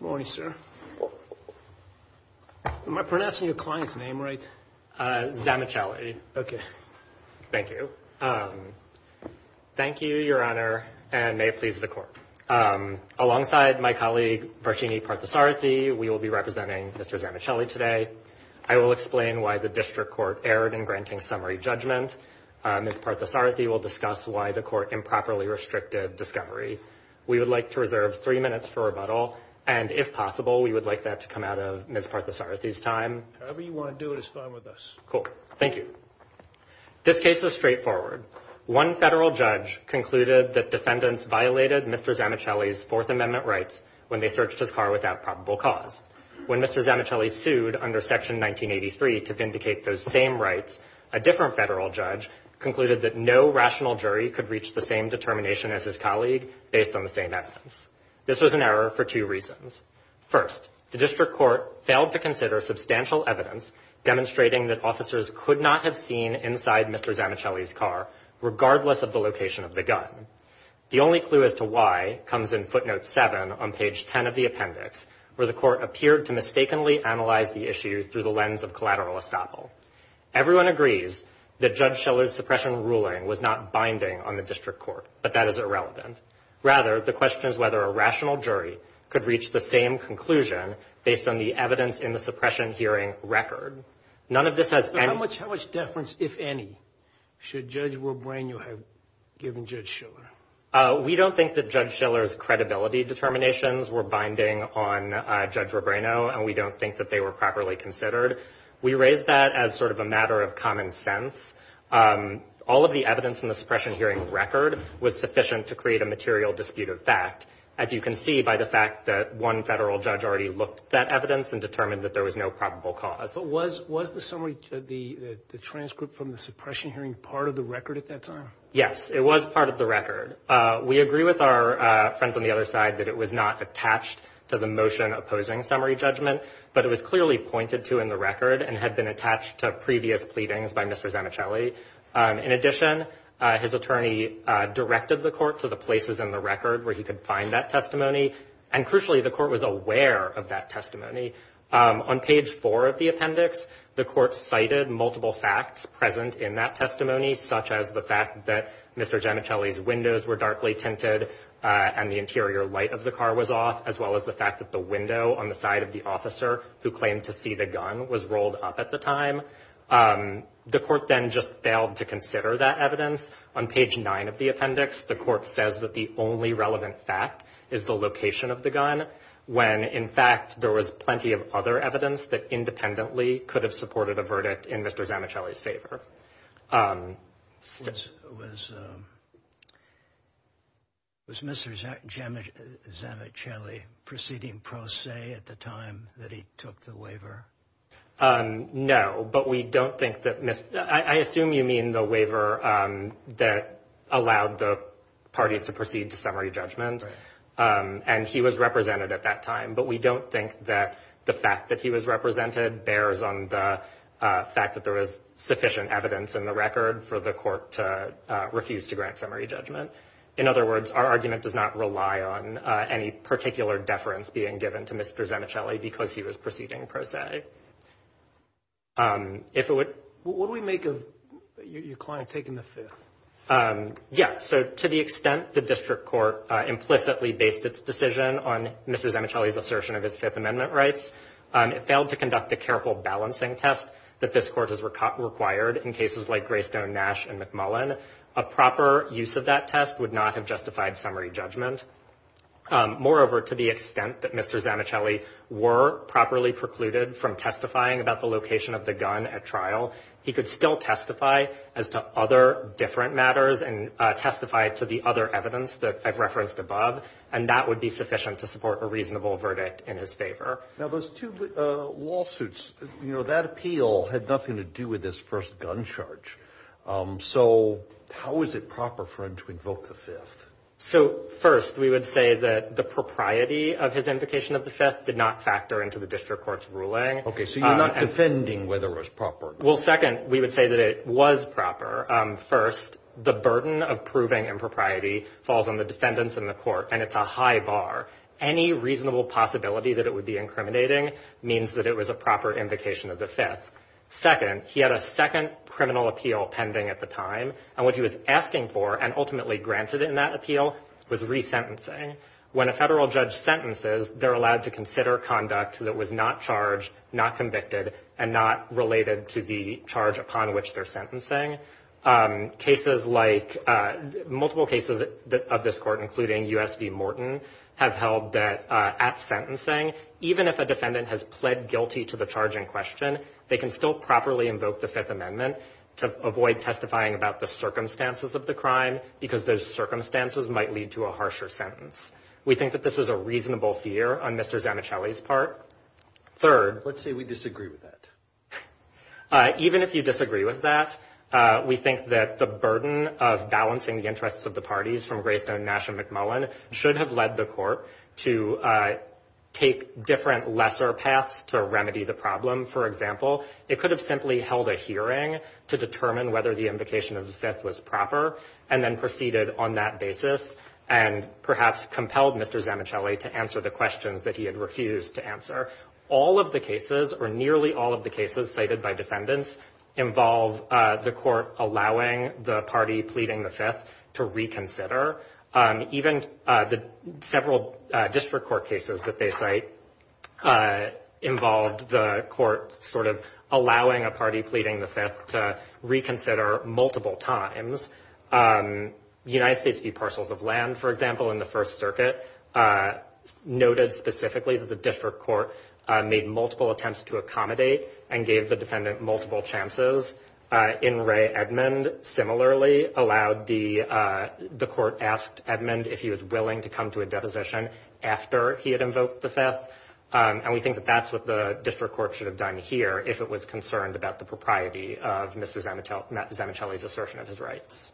Morning, sir. Am I pronouncing your client's name right? Zamichieli. Okay. Thank you. Thank you, your honor, and may it please the court. Alongside my colleague Vartini Parthasarathy, we will be representing Mr. Zamichieli today. I will explain why the district court erred in granting summary judgment. Ms. Parthasarathy will discuss why the court improperly restricted discovery. We would like to reserve three minutes for rebuttal, and if possible, we would like that to come out of Ms. Parthasarathy's time. However you want to do it is fine with us. Cool. Thank you. This case is straightforward. One federal judge concluded that defendants violated Mr. Zamicheli's Fourth Amendment rights when they searched his car without probable cause. When Mr. Zamicheli sued under Section 1983 to vindicate those same rights, a different federal judge concluded that no evidence. This was an error for two reasons. First, the district court failed to consider substantial evidence demonstrating that officers could not have seen inside Mr. Zamicheli's car, regardless of the location of the gun. The only clue as to why comes in footnote 7 on page 10 of the appendix, where the court appeared to mistakenly analyze the issue through the lens of collateral estoppel. Everyone agrees that Judge Schiele's suppression ruling was not binding on the district court, but that is whether a rational jury could reach the same conclusion based on the evidence in the suppression hearing record. None of this has any... How much deference, if any, should Judge Robreno have given Judge Schiele? We don't think that Judge Schiele's credibility determinations were binding on Judge Robreno, and we don't think that they were properly considered. We raise that as sort of a matter of common sense. All of the evidence in the suppression hearing record was sufficient to create a conclusion, as you can see by the fact that one federal judge already looked at that evidence and determined that there was no probable cause. But was the summary, the transcript from the suppression hearing, part of the record at that time? Yes, it was part of the record. We agree with our friends on the other side that it was not attached to the motion opposing summary judgment, but it was clearly pointed to in the record and had been attached to previous pleadings by Mr. Zamicheli. In addition, his attorney directed the court to the places in the record where he could find that testimony, and crucially, the court was aware of that testimony. On page four of the appendix, the court cited multiple facts present in that testimony, such as the fact that Mr. Zamicheli's windows were darkly tinted and the interior light of the car was off, as well as the fact that the window on the side of the officer who claimed to see the gun was rolled up at the time. The court then just failed to consider that evidence. On page nine of the appendix, the court says that the only relevant fact is the location of the gun, when, in fact, there was plenty of other evidence that independently could have supported a verdict in Mr. Zamicheli's favor. Was Mr. Zamicheli proceeding pro se at the time that he took the waiver? No, but we don't think that, I assume you mean the waiver that allowed the parties to proceed to summary judgment, and he was represented at that time, but we don't think that the fact that he was represented bears on the fact that there was sufficient evidence in the record for the court to refuse to grant summary judgment. In other words, our argument does not rely on any particular deference being given to Mr. Zamicheli because he was proceeding pro se. What do we make of your client taking the Fifth? Yeah, so to the extent the district court implicitly based its decision on Mr. Zamicheli's assertion of his Fifth Amendment rights, it failed to conduct the careful balancing test that this court has required in cases like Greystone, Nash, and McMullen. A proper use of that test would not have justified summary judgment. Moreover, to the extent that Mr. Zamicheli were properly precluded from testifying about the location of the gun at trial, he could still testify as to other different matters and testify to the other evidence that I've referenced above, and that would be sufficient to support a reasonable verdict in his favor. Now, those two lawsuits, you know, that appeal had nothing to with this first gun charge. So how is it proper for him to invoke the Fifth? So first, we would say that the propriety of his invocation of the Fifth did not factor into the district court's ruling. Okay, so you're not defending whether it was proper. Well, second, we would say that it was proper. First, the burden of proving impropriety falls on the defendants in the court, and it's a high bar. Any reasonable possibility that it would be incriminating means that it was a proper invocation of the Fifth. Second, he had a second criminal appeal pending at the time, and what he was asking for and ultimately granted in that appeal was resentencing. When a federal judge sentences, they're allowed to consider conduct that was not charged, not convicted, and not related to the charge upon which they're sentencing. Cases like, multiple cases of this court, including U.S. v. Morton, have held that at sentencing, even if a defendant has pled guilty to the charge in question, they can still properly invoke the Fifth Amendment to avoid testifying about the circumstances of the crime, because those circumstances might lead to a harsher sentence. We think that this was a reasonable fear on Mr. Zanichelli's part. Third. Let's say we disagree with that. Even if you disagree with that, we think that the burden of balancing the interests of the parties from Greystone, Nash, and McMullen should have led the court to take different lesser paths to remedy the problem. For example, it could have simply held a hearing to determine whether the invocation of the Fifth was proper, and then proceeded on that basis, and perhaps compelled Mr. Zanichelli to answer the questions that he had refused to answer. All of the cases, or nearly all of the cases cited by defendants, involve the court allowing the party pleading the Fifth to reconsider. Even the several district court cases that they cite involved the court sort of allowing a party pleading the Fifth to reconsider multiple times. United States v. Parcels of Land, for example, in the First Circuit, noted specifically that the district court made multiple attempts to accommodate and gave the defendant multiple chances. In Ray Edmond, similarly, allowed the court asked Edmond if he was willing to come to a deposition after he had invoked the Fifth. And we think that that's what the district court should have done here if it was concerned about the propriety of Mr. Zanichelli's assertion of his rights.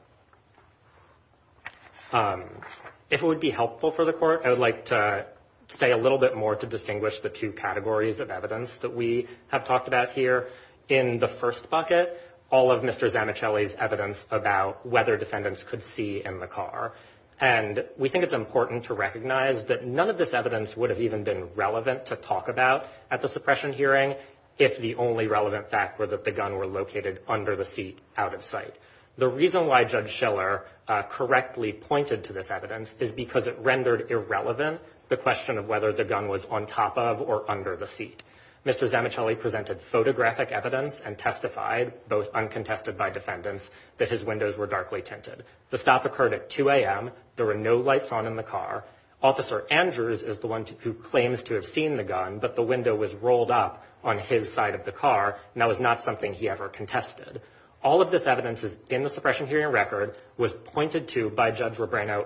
If it would be helpful for the court, I would like to say a little bit more to distinguish the two categories of evidence that we have talked about here. In the first bucket, all of Mr. Zanichelli's evidence about whether defendants could see in the car. And we think it's important to recognize that none of this evidence would have even been relevant to talk about at the suppression hearing if the only relevant fact were that the gun were located under the seat, out of sight. The reason why Judge Schiller correctly pointed to this evidence is because it rendered irrelevant the question of whether the gun was on top of or under the seat. Mr. Zanichelli presented photographic evidence and testified, both uncontested by defendants, that his windows were darkly tinted. The stop occurred at 2 a.m. There were no lights on in the car. Officer Andrews is the one who claims to have seen the gun, but the window was rolled up on his side of the car. That was not something he ever contested. All of this evidence is in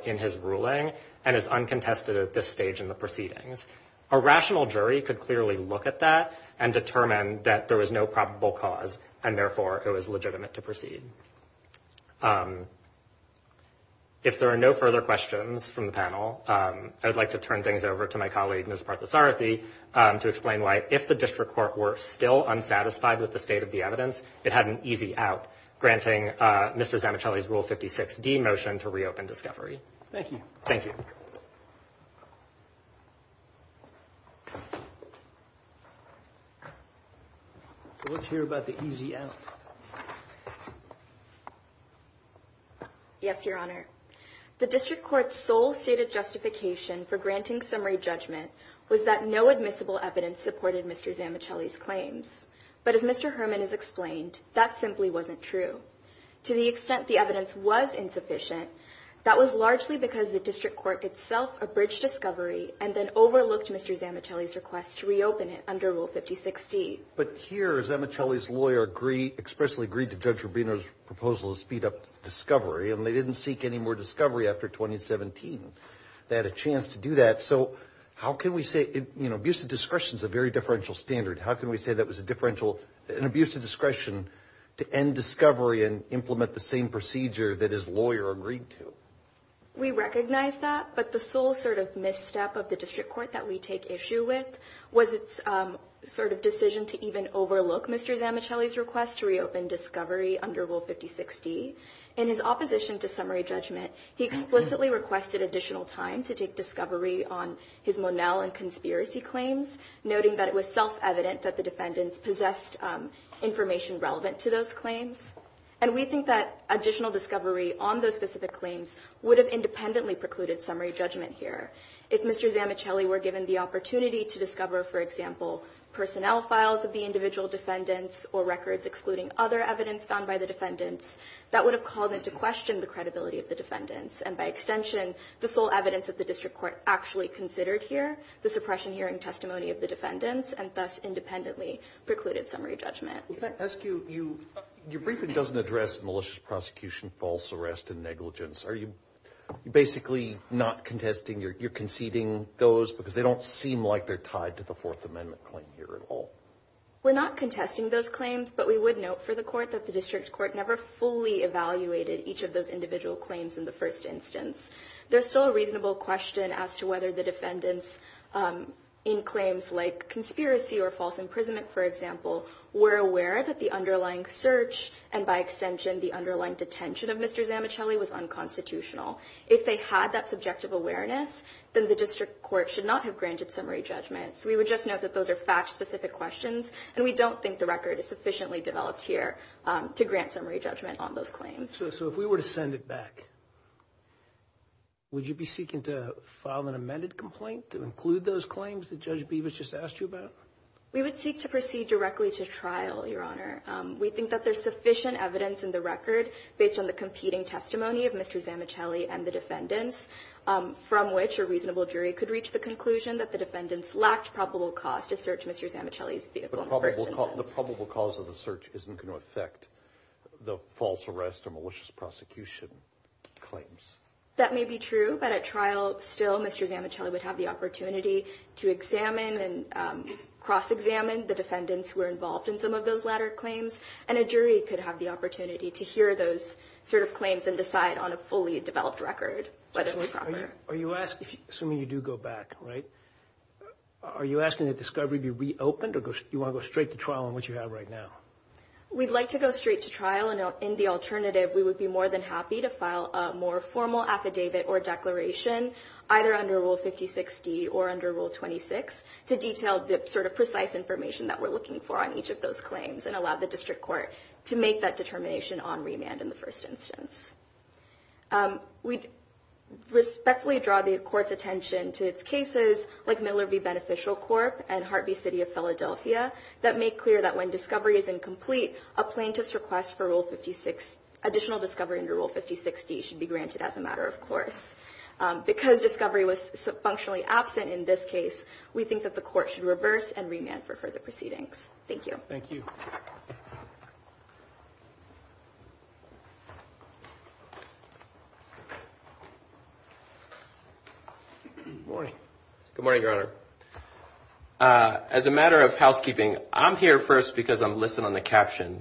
in his ruling and is uncontested at this stage in the proceedings. A rational jury could clearly look at that and determine that there was no probable cause, and therefore it was legitimate to proceed. If there are no further questions from the panel, I would like to turn things over to my colleague, Ms. Parthasarathy, to explain why, if the district court were still unsatisfied with the state of the evidence, it had an easy out, granting Mr. Zanichelli's Rule 56D motion to reopen discovery. Thank you. Let's hear about the easy out. Yes, Your Honor. The district court's sole stated justification for granting summary judgment was that no admissible evidence supported Mr. Zanichelli's claims. But as Mr. Herman has That was largely because the district court itself abridged discovery and then overlooked Mr. Zanichelli's request to reopen it under Rule 56D. But here, Zanichelli's lawyer expressly agreed to Judge Rubino's proposal to speed up discovery, and they didn't seek any more discovery after 2017. They had a chance to do that. So how can we say, you know, abuse of discretion is a very differential standard. How can we say that was an abuse of discretion to end discovery and implement the same procedure that his lawyer agreed to? We recognize that, but the sole sort of misstep of the district court that we take issue with was its sort of decision to even overlook Mr. Zanichelli's request to reopen discovery under Rule 56D. In his opposition to summary judgment, he explicitly requested additional time to take discovery on his Monell and conspiracy claims, noting that it was self-evident that the defendants possessed information relevant to those claims. And we think that additional discovery on those specific claims would have independently precluded summary judgment here. If Mr. Zanichelli were given the opportunity to discover, for example, personnel files of the individual defendants or records excluding other evidence found by the defendants, that would have called into question the credibility of the defendants and, by extension, the sole evidence that the district court actually considered here, the suppression hearing testimony of the defendants, and thus independently precluded summary judgment. Your briefing doesn't address malicious prosecution, false arrest, and negligence. Are you basically not contesting you're conceding those because they don't seem like they're tied to the Fourth Amendment claim here at all? We're not contesting those claims, but we would note for the court that the district court never fully evaluated each of those individual claims in the first instance. There's still a reasonable question as to whether the defendants in claims like conspiracy or false imprisonment, for example, were aware that the underlying search and, by extension, the underlying detention of Mr. Zanichelli was unconstitutional. If they had that subjective awareness, then the district court should not have granted summary judgments. We would just note that those are fact-specific questions, and we don't think the record is sufficiently developed here to grant summary judgment on those claims. So if we were to send it back, would you be seeking to file an amended complaint to include those claims that Judge Bevis just asked you about? We would seek to proceed directly to trial, Your Honor. We think that there's sufficient evidence in the record based on the competing testimony of Mr. Zanichelli and the defendants, from which a reasonable jury could reach the conclusion that the defendants lacked probable cause to search Mr. Zanichelli's vehicle in the first instance. The probable cause of the search isn't going to affect the false arrest or malicious prosecution claims. That may be true, but at trial, still, Mr. Zanichelli would have the opportunity to examine and cross-examine the defendants who were involved in some of those latter claims, and a jury could have the opportunity to hear those sort of claims and decide on a fully developed record. Are you asking, assuming you do go back, right, are you asking that discovery be reopened, or do you want to go straight to trial on what you have right now? We'd like to go straight to trial, and in the alternative, we would be more than happy to file a more formal affidavit or declaration, either under Rule 5060 or under Rule 26, to detail the sort of precise information that we're looking for on each of those claims, and allow the District Court to make that determination on remand in the first instance. We'd respectfully draw the Court's attention to its cases like Miller v. Beneficial Corp. and Hart v. City of Philadelphia that make clear that when discovery is incomplete, a plaintiff's request for additional discovery under Rule 5060 should be granted as a matter of course. Because discovery was functionally absent in this case, we think that the Court should reverse and remand for further proceedings. Thank you. Thank you. Good morning. Good morning, Your Honor. As a matter of housekeeping, I'm here first because I'm listening on the caption.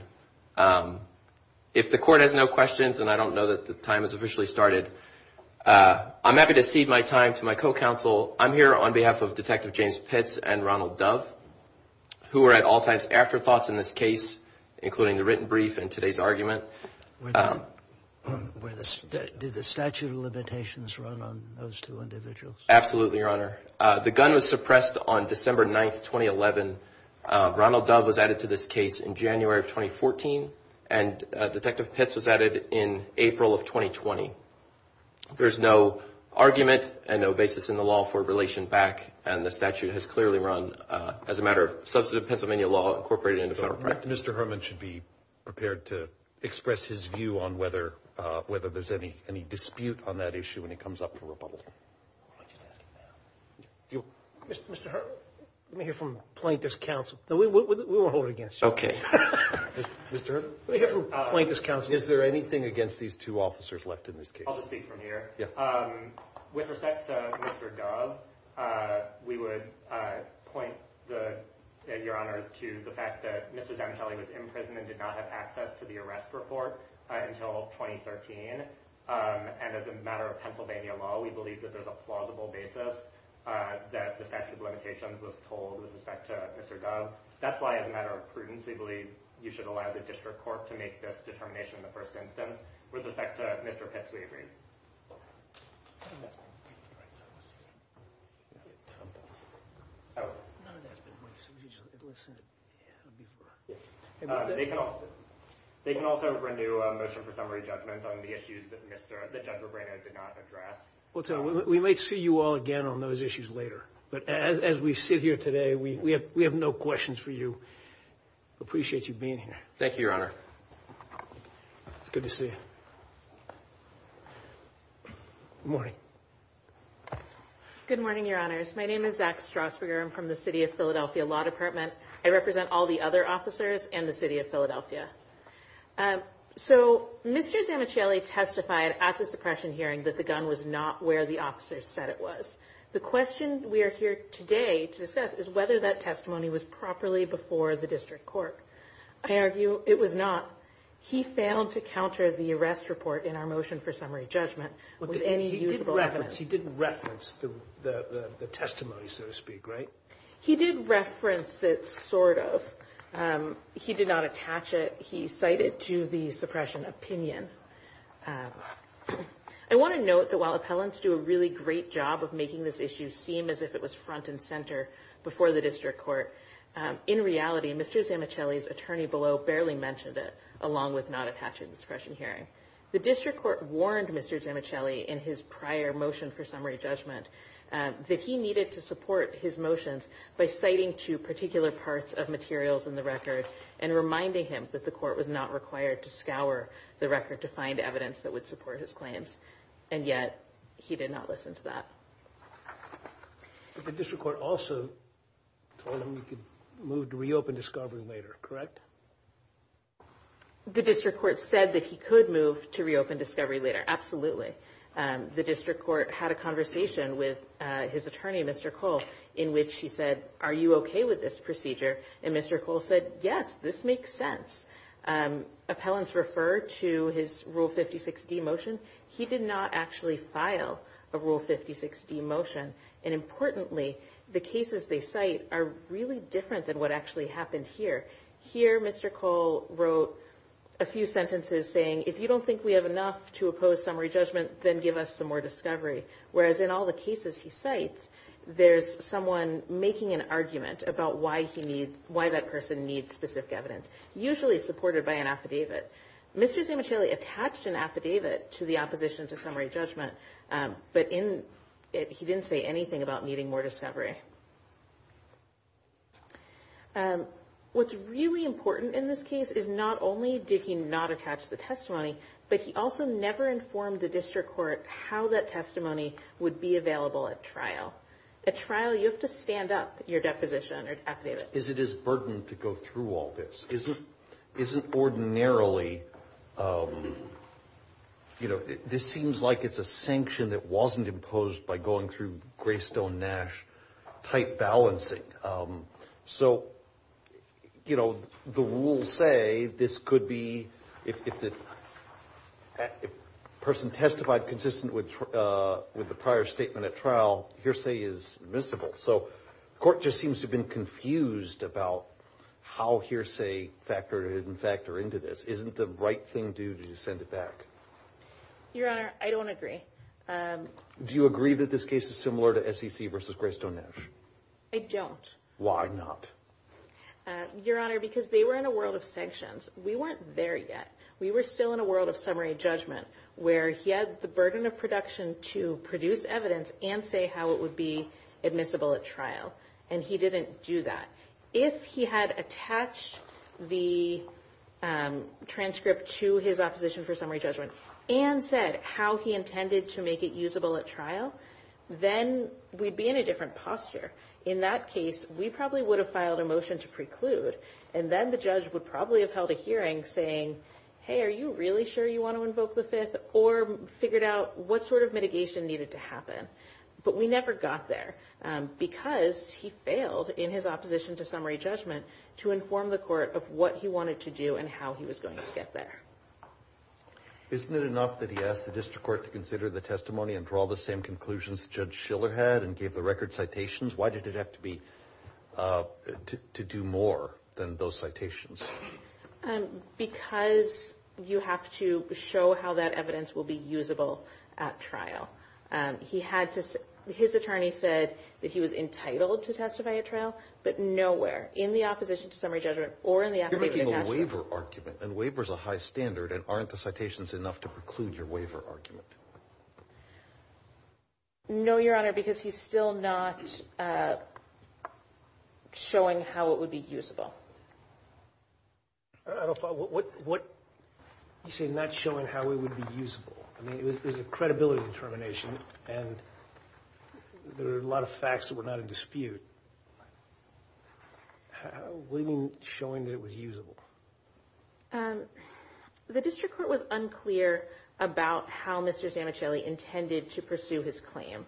If the Court has no questions, and I don't know that the time has officially started, I'm happy to cede my time to my co-counsel. I'm here on behalf of Detective James Pitts and Ronald Dove, who are at all times afterthoughts in this case, including the written brief and today's argument. Did the statute of limitations run on those two individuals? Absolutely, Your Honor. The gun was suppressed on December 9, 2011. Ronald Dove was added to this case in January of 2014, and Detective Pitts was added in April of 2020. There's no argument and no basis in the law for as a matter of substantive Pennsylvania law incorporated into federal practice. Mr. Herman should be prepared to express his view on whether there's any dispute on that issue when it comes up for rebuttal. Mr. Herman, let me hear from plaintiff's counsel. We won't hold it against you. Okay. Mr. Herman, let me hear from plaintiff's counsel. Is there anything against these two officers left in this case? I'll just speak from here. With respect to Mr. Dove, we would point, Your Honors, to the fact that Mr. Zantelli was in prison and did not have access to the arrest report until 2013. And as a matter of Pennsylvania law, we believe that there's a plausible basis that the statute of limitations was told with respect to Mr. Dove. That's why, as a matter of prudence, we believe you should allow the district court to make this determination in the first instance. With respect to Mr. Pitts, we agree. They can also renew a motion for summary judgment on the issues that Judge Rebreno did not address. Well, we might see you all again on those issues later. But as we sit here today, we have no questions for you. Appreciate you being here. Thank you, Your Honor. It's good to see you. Good morning. Good morning, Your Honors. My name is Zach Strausberger. I'm from the City of Philadelphia Law Department. I represent all the other officers in the City of Philadelphia. So Mr. Zantelli testified at the suppression hearing that the gun was not where the officers said it was. The question we are here today to discuss is whether that testimony was properly before the district court. I argue it was not. He failed to counter the arrest report in our motion for summary judgment with any useful evidence. He did reference the testimony, so to speak, right? He did reference it, sort of. He did not attach it. He cited to the suppression opinion. I want to note that while appellants do a really great job of making this issue seem as if it was front and center before the district court, in reality, Mr. Zantelli's attorney below barely mentioned it, along with not attaching the suppression hearing. The district court warned Mr. Zantelli in his prior motion for summary judgment that he needed to support his motions by citing two particular parts of materials in the record and reminding him that the court was not required to scour the record to find evidence that would support his claims. And yet, he did not that. The district court also told him he could move to reopen discovery later, correct? The district court said that he could move to reopen discovery later. Absolutely. The district court had a conversation with his attorney, Mr. Cole, in which he said, are you okay with this procedure? And Mr. Cole said, yes, this makes sense. Appellants referred to his Rule 56D motion. He did not actually file a Rule 56D motion. And importantly, the cases they cite are really different than what actually happened here. Here, Mr. Cole wrote a few sentences saying, if you don't think we have enough to oppose summary judgment, then give us some more discovery. Whereas in all the cases he cites, there's someone making an argument about why that person needs specific evidence, usually supported by an affidavit. Mr. Zamichilli attached an affidavit to the opposition to summary judgment, but he didn't say anything about needing more discovery. What's really important in this case is not only did he not attach the testimony, but he also never informed the district court how that testimony would be available at trial. At trial, you have to stand up your deposition or affidavit. Is it his burden to go through all this? Isn't ordinarily, you know, this seems like it's a sanction that wasn't imposed by going through Greystone Nash-type balancing. So, you know, the rules say this could be, if the person testified consistent with the prior statement at trial, hearsay is admissible. So the court just seems to have been confused about how hearsay factored into this. Isn't the right thing to do to send it back? Your Honor, I don't agree. Do you agree that this case is similar to SEC versus Greystone Nash? I don't. Why not? Your Honor, because they were in a world of sanctions. We weren't there yet. We were still in a world of summary judgment, where he had the burden of production to produce evidence and say how it would be admissible at trial. And he didn't do that. If he had attached the transcript to his opposition for summary judgment and said how he intended to make it usable at trial, then we'd be in a different posture. In that case, we probably would have filed a motion to preclude. And then the judge would probably have held a hearing saying, hey, are you really sure you want to invoke the Fifth? Or figured out what sort of mitigation needed to happen. But we never got there because he failed in his opposition to summary judgment to inform the court of what he wanted to do and how he was going to get there. Isn't it enough that he asked the district court to consider the testimony and draw the same conclusions Judge Schiller had and gave the record citations? Why did it have to be to do more than those citations? Because you have to show how that evidence will be usable at trial. His attorney said that he was entitled to testify at trial, but nowhere in the opposition to summary judgment or in the affidavit. You're making a waiver argument, and waiver is a high standard. And aren't the citations enough to preclude your waiver argument? No, Your Honor, because he's still not showing how it would be usable. You say not showing how it would be usable. I mean, it was a credibility determination, and there are a lot of facts that were not in dispute. What do you mean showing that it was usable? The district court was unclear about how Mr. Zamichelli intended to pursue his claim.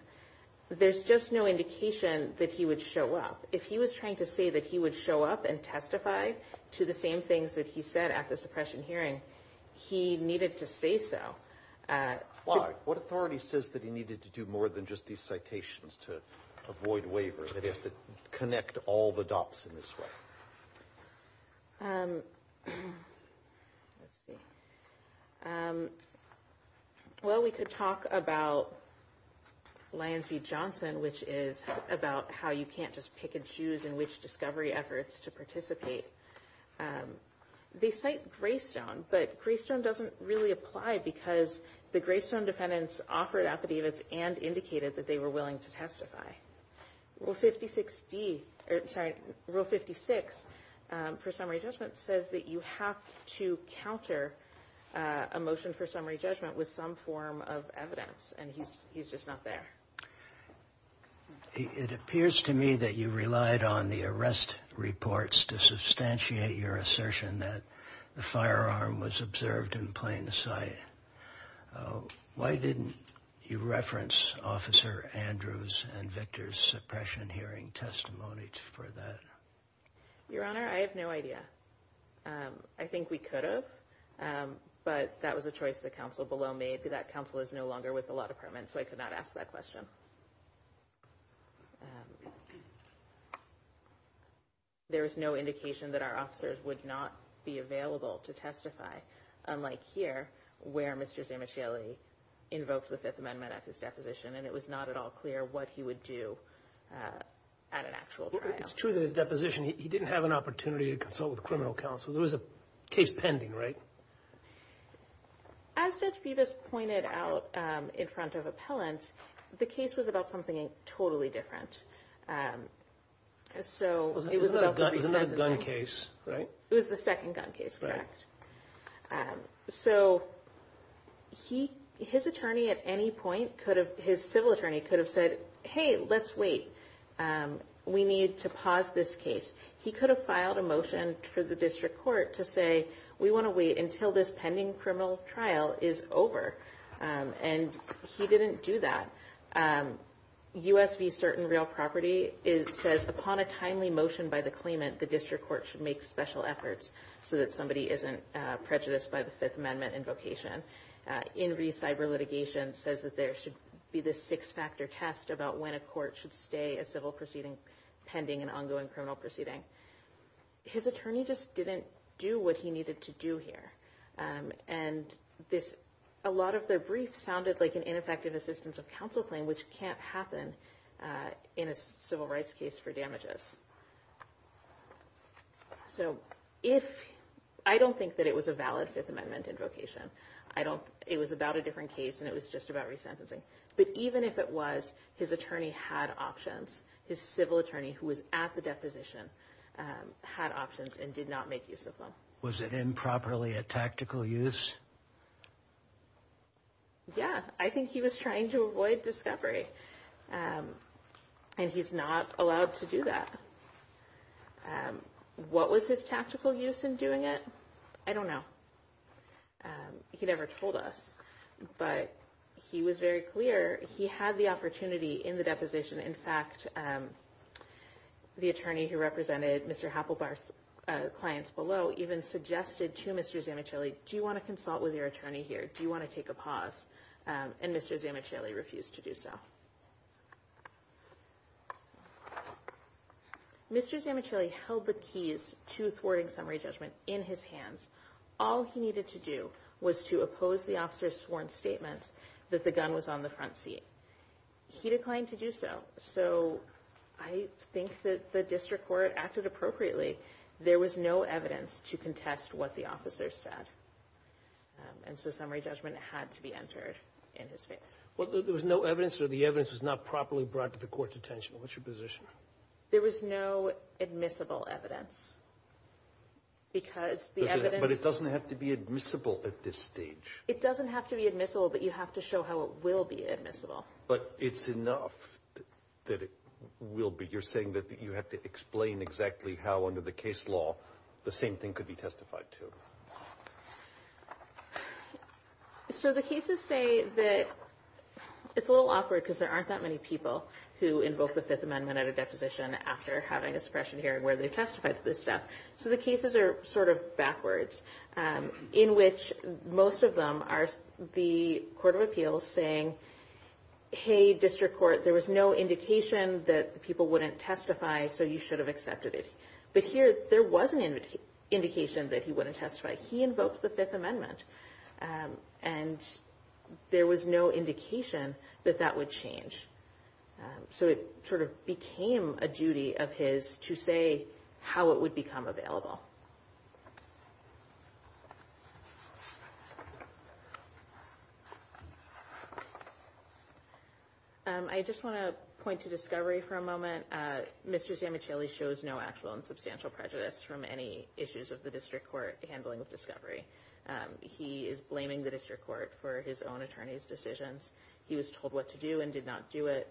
There's just no indication that he would show up. If he was trying to say that he would show up and testify to the same things that he said at the suppression hearing, he needed to say so. Why? What authority says that he needed to do more than just these citations to avoid waiver? That he has to connect all the dots in this way? Let's see. Well, we could talk about Lyons v. Johnson, which is about how you can't just pick and choose in which discovery efforts to participate. They cite Greystone, but Greystone doesn't really apply because the Greystone defendants offered affidavits and indicated that they were willing to testify. Rule 56 for summary judgment says that you have to counter a motion for summary judgment with some form of evidence, and he's just not there. It appears to me that you relied on the arrest reports to substantiate your assertion that the firearm was observed in plain sight. Why didn't you reference Officer Andrews and Victor's suppression hearing testimonies for that? Your Honor, I have no idea. I think we could have, but that was a choice the counsel below made. That counsel is no longer with the law department, so I could not ask that question. There is no indication that our officers would not be available to testify, unlike here, where Mr. Zamichielli invoked the Fifth Amendment at his deposition, and it was not at all clear what he would do at an actual trial. It's true that in the deposition, he didn't have an opportunity to consult with the criminal counsel. There was a case pending, right? As Judge Bevis pointed out in front of appellants, the case was about something totally different. So it was a gun case, right? It was the second gun case, correct? So his attorney at any point could have, his civil attorney, could have said, hey, let's wait. We need to pause this case. He could have filed a motion for the district court to say, we want to wait until this pending criminal trial is over, and he didn't do that. U.S. v. Certain Real Property, it says upon a timely motion by the claimant, the district court should make special efforts so that somebody isn't prejudiced by the Fifth Amendment invocation. In re-cyber litigation, it says that there should be the six-factor test about when a court should stay a civil proceeding pending an ongoing criminal proceeding. His attorney just didn't do what he needed to do here, and a lot of the briefs sounded like an ineffective assistance of counsel claim, which can't happen in a civil rights case for damages. So I don't think that it was a valid Fifth Amendment invocation. It was about a different case, and it was just about resentencing. But even if it was, his attorney had options. His civil attorney who was at the deposition had options and did not make use of them. Was it improperly a tactical use? Yeah, I think he was trying to avoid discovery, and he's not allowed to do that. What was his tactical use in doing it? I don't know. He never told us, but he was very clear. He had the opportunity in the deposition. In fact, the attorney who represented Mr. Happelbar's clients below even suggested to Mr. Zamichelli, do you want to consult with your attorney here? Do you want to take a pause? And Mr. Zamichelli refused to do so. Mr. Zamichelli held the keys to thwarting summary judgment in his hands. All he needed to do was to oppose the officer's sworn statement that the gun was on the front seat. He declined to do so. So I think that the district court acted appropriately. There was no evidence to contest what the officer said. And so summary judgment had to be entered in his favor. Well, there was no evidence or the evidence was not properly brought to the court's attention. What's your position? There was no admissible evidence because the evidence... It doesn't have to be admissible, but you have to show how it will be admissible. But it's enough that it will be. You're saying that you have to explain exactly how under the case law the same thing could be testified to. So the cases say that it's a little awkward because there aren't that many people who invoke the Fifth Amendment at a deposition after having a suppression hearing where they most of them are the court of appeals saying, hey, district court, there was no indication that people wouldn't testify, so you should have accepted it. But here there was an indication that he wouldn't testify. He invoked the Fifth Amendment and there was no indication that that would change. So it sort of became a duty of his to say how it would become available. I just want to point to discovery for a moment. Mr. Ziamichelli shows no actual and substantial prejudice from any issues of the district court handling of discovery. He is blaming the district court for his own attorney's decisions. He was told what to do and did not do it.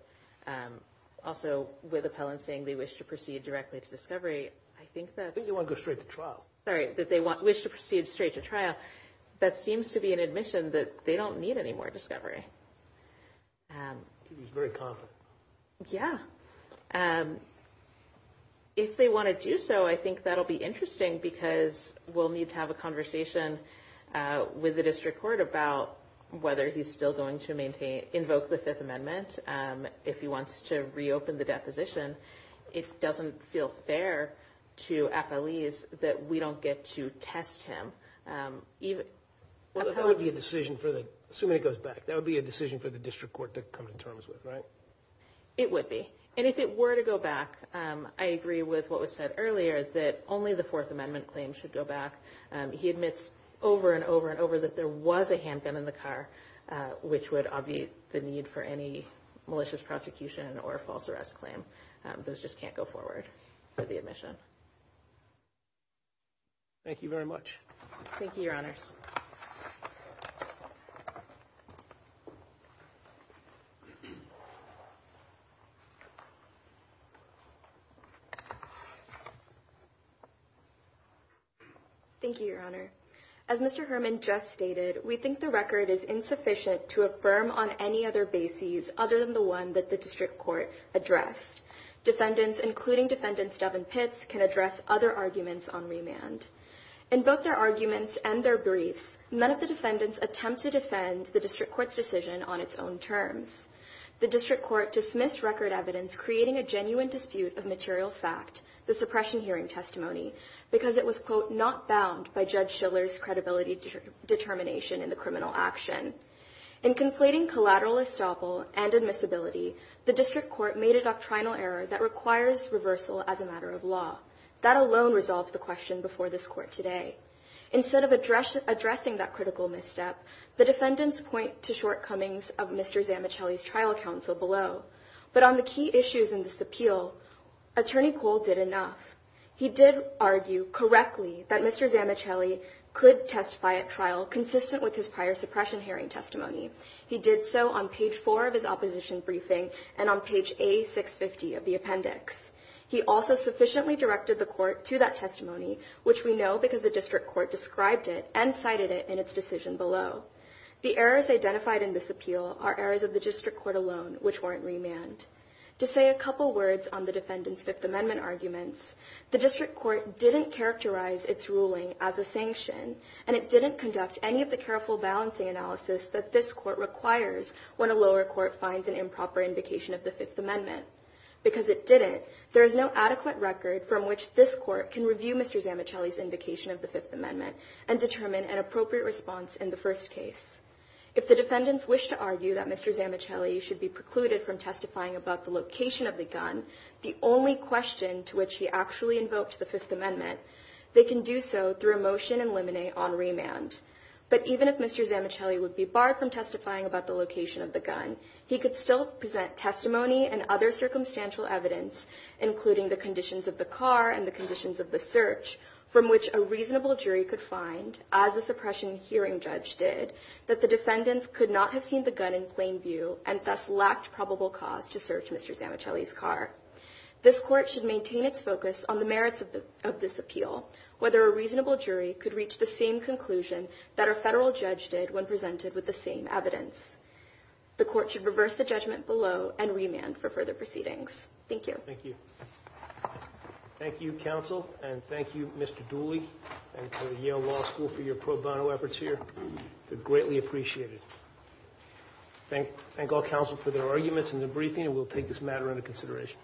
Also, with appellants saying they wish to proceed directly to discovery, I think that... Sorry, that they wish to proceed straight to trial. That seems to be an admission that they don't need any more discovery. He's very confident. Yeah. If they want to do so, I think that'll be interesting because we'll need to have a conversation with the district court about whether he's still going to invoke the Fifth Amendment if he wants to reopen the deposition. It doesn't feel fair to appellees that we don't get to test him. Assuming it goes back, that would be a decision for the district court to come to terms with, right? It would be. And if it were to go back, I agree with what was said earlier that only the Fourth Amendment claim should go back. He admits over and over and over that there was handgun in the car, which would obviate the need for any malicious prosecution or false arrest claim. Those just can't go forward for the admission. Thank you very much. Thank you, Your Honor. In conflating collateral estoppel and admissibility, the district court made a doctrinal error that requires reversal as a matter of law. That alone resolves the question before this court today. Instead of addressing that critical misstep, the defendants point to shortcomings of Mr. Zammichelli's trial counsel below. But on the key issues in this appeal, Attorney Cole did enough. He did argue correctly that Mr. Zammichelli could testify at trial consistent with his prior suppression hearing testimony. He did so on page four of his opposition briefing and on page A650 of the appendix. He also sufficiently directed the court to that testimony, which we know because the district court described it and cited it in its decision below. The errors identified in this appeal are errors of the district court alone, which weren't remand. To say a couple words on the defendants Fifth Amendment arguments, the district court didn't characterize its ruling as a sanction, and it didn't conduct any of the careful balancing analysis that this court requires when a lower court finds an improper indication of the Fifth Amendment. Because it didn't, there is no adequate record from which this court can review Mr. Zammichelli's indication of the Fifth Amendment and determine an appropriate response in the first case. If the defendants wish to argue that Mr. Zammichelli should be precluded from testifying about the location of the gun, the only question to which he actually invoked the Fifth Amendment, they can do so through a motion in limine on remand. But even if Mr. Zammichelli is not convicted, the district court's ruling is not a sanction. Even if Mr. Zammichelli would be barred from testifying about the location of the gun, he could still present testimony and other circumstantial evidence, including the conditions of the car and the conditions of the search, from which a reasonable jury could find, as the suppression hearing judge did, that the defendants could not have seen the gun in plain view and thus lacked probable cause to search Mr. Zammichelli's car. This court should maintain its focus on the merits of this appeal, whether a reasonable jury could reach the same conclusion that a federal judge did when presented with the same evidence. The court should reverse the judgment below and remand for further proceedings. Thank you. Thank you. Thank you, counsel, and thank you, Mr. Dooley, and to the Yale Law School for your pro bono efforts here. They're greatly appreciated. Thank all counsel for their arguments and their briefing, and we'll take this matter into consideration.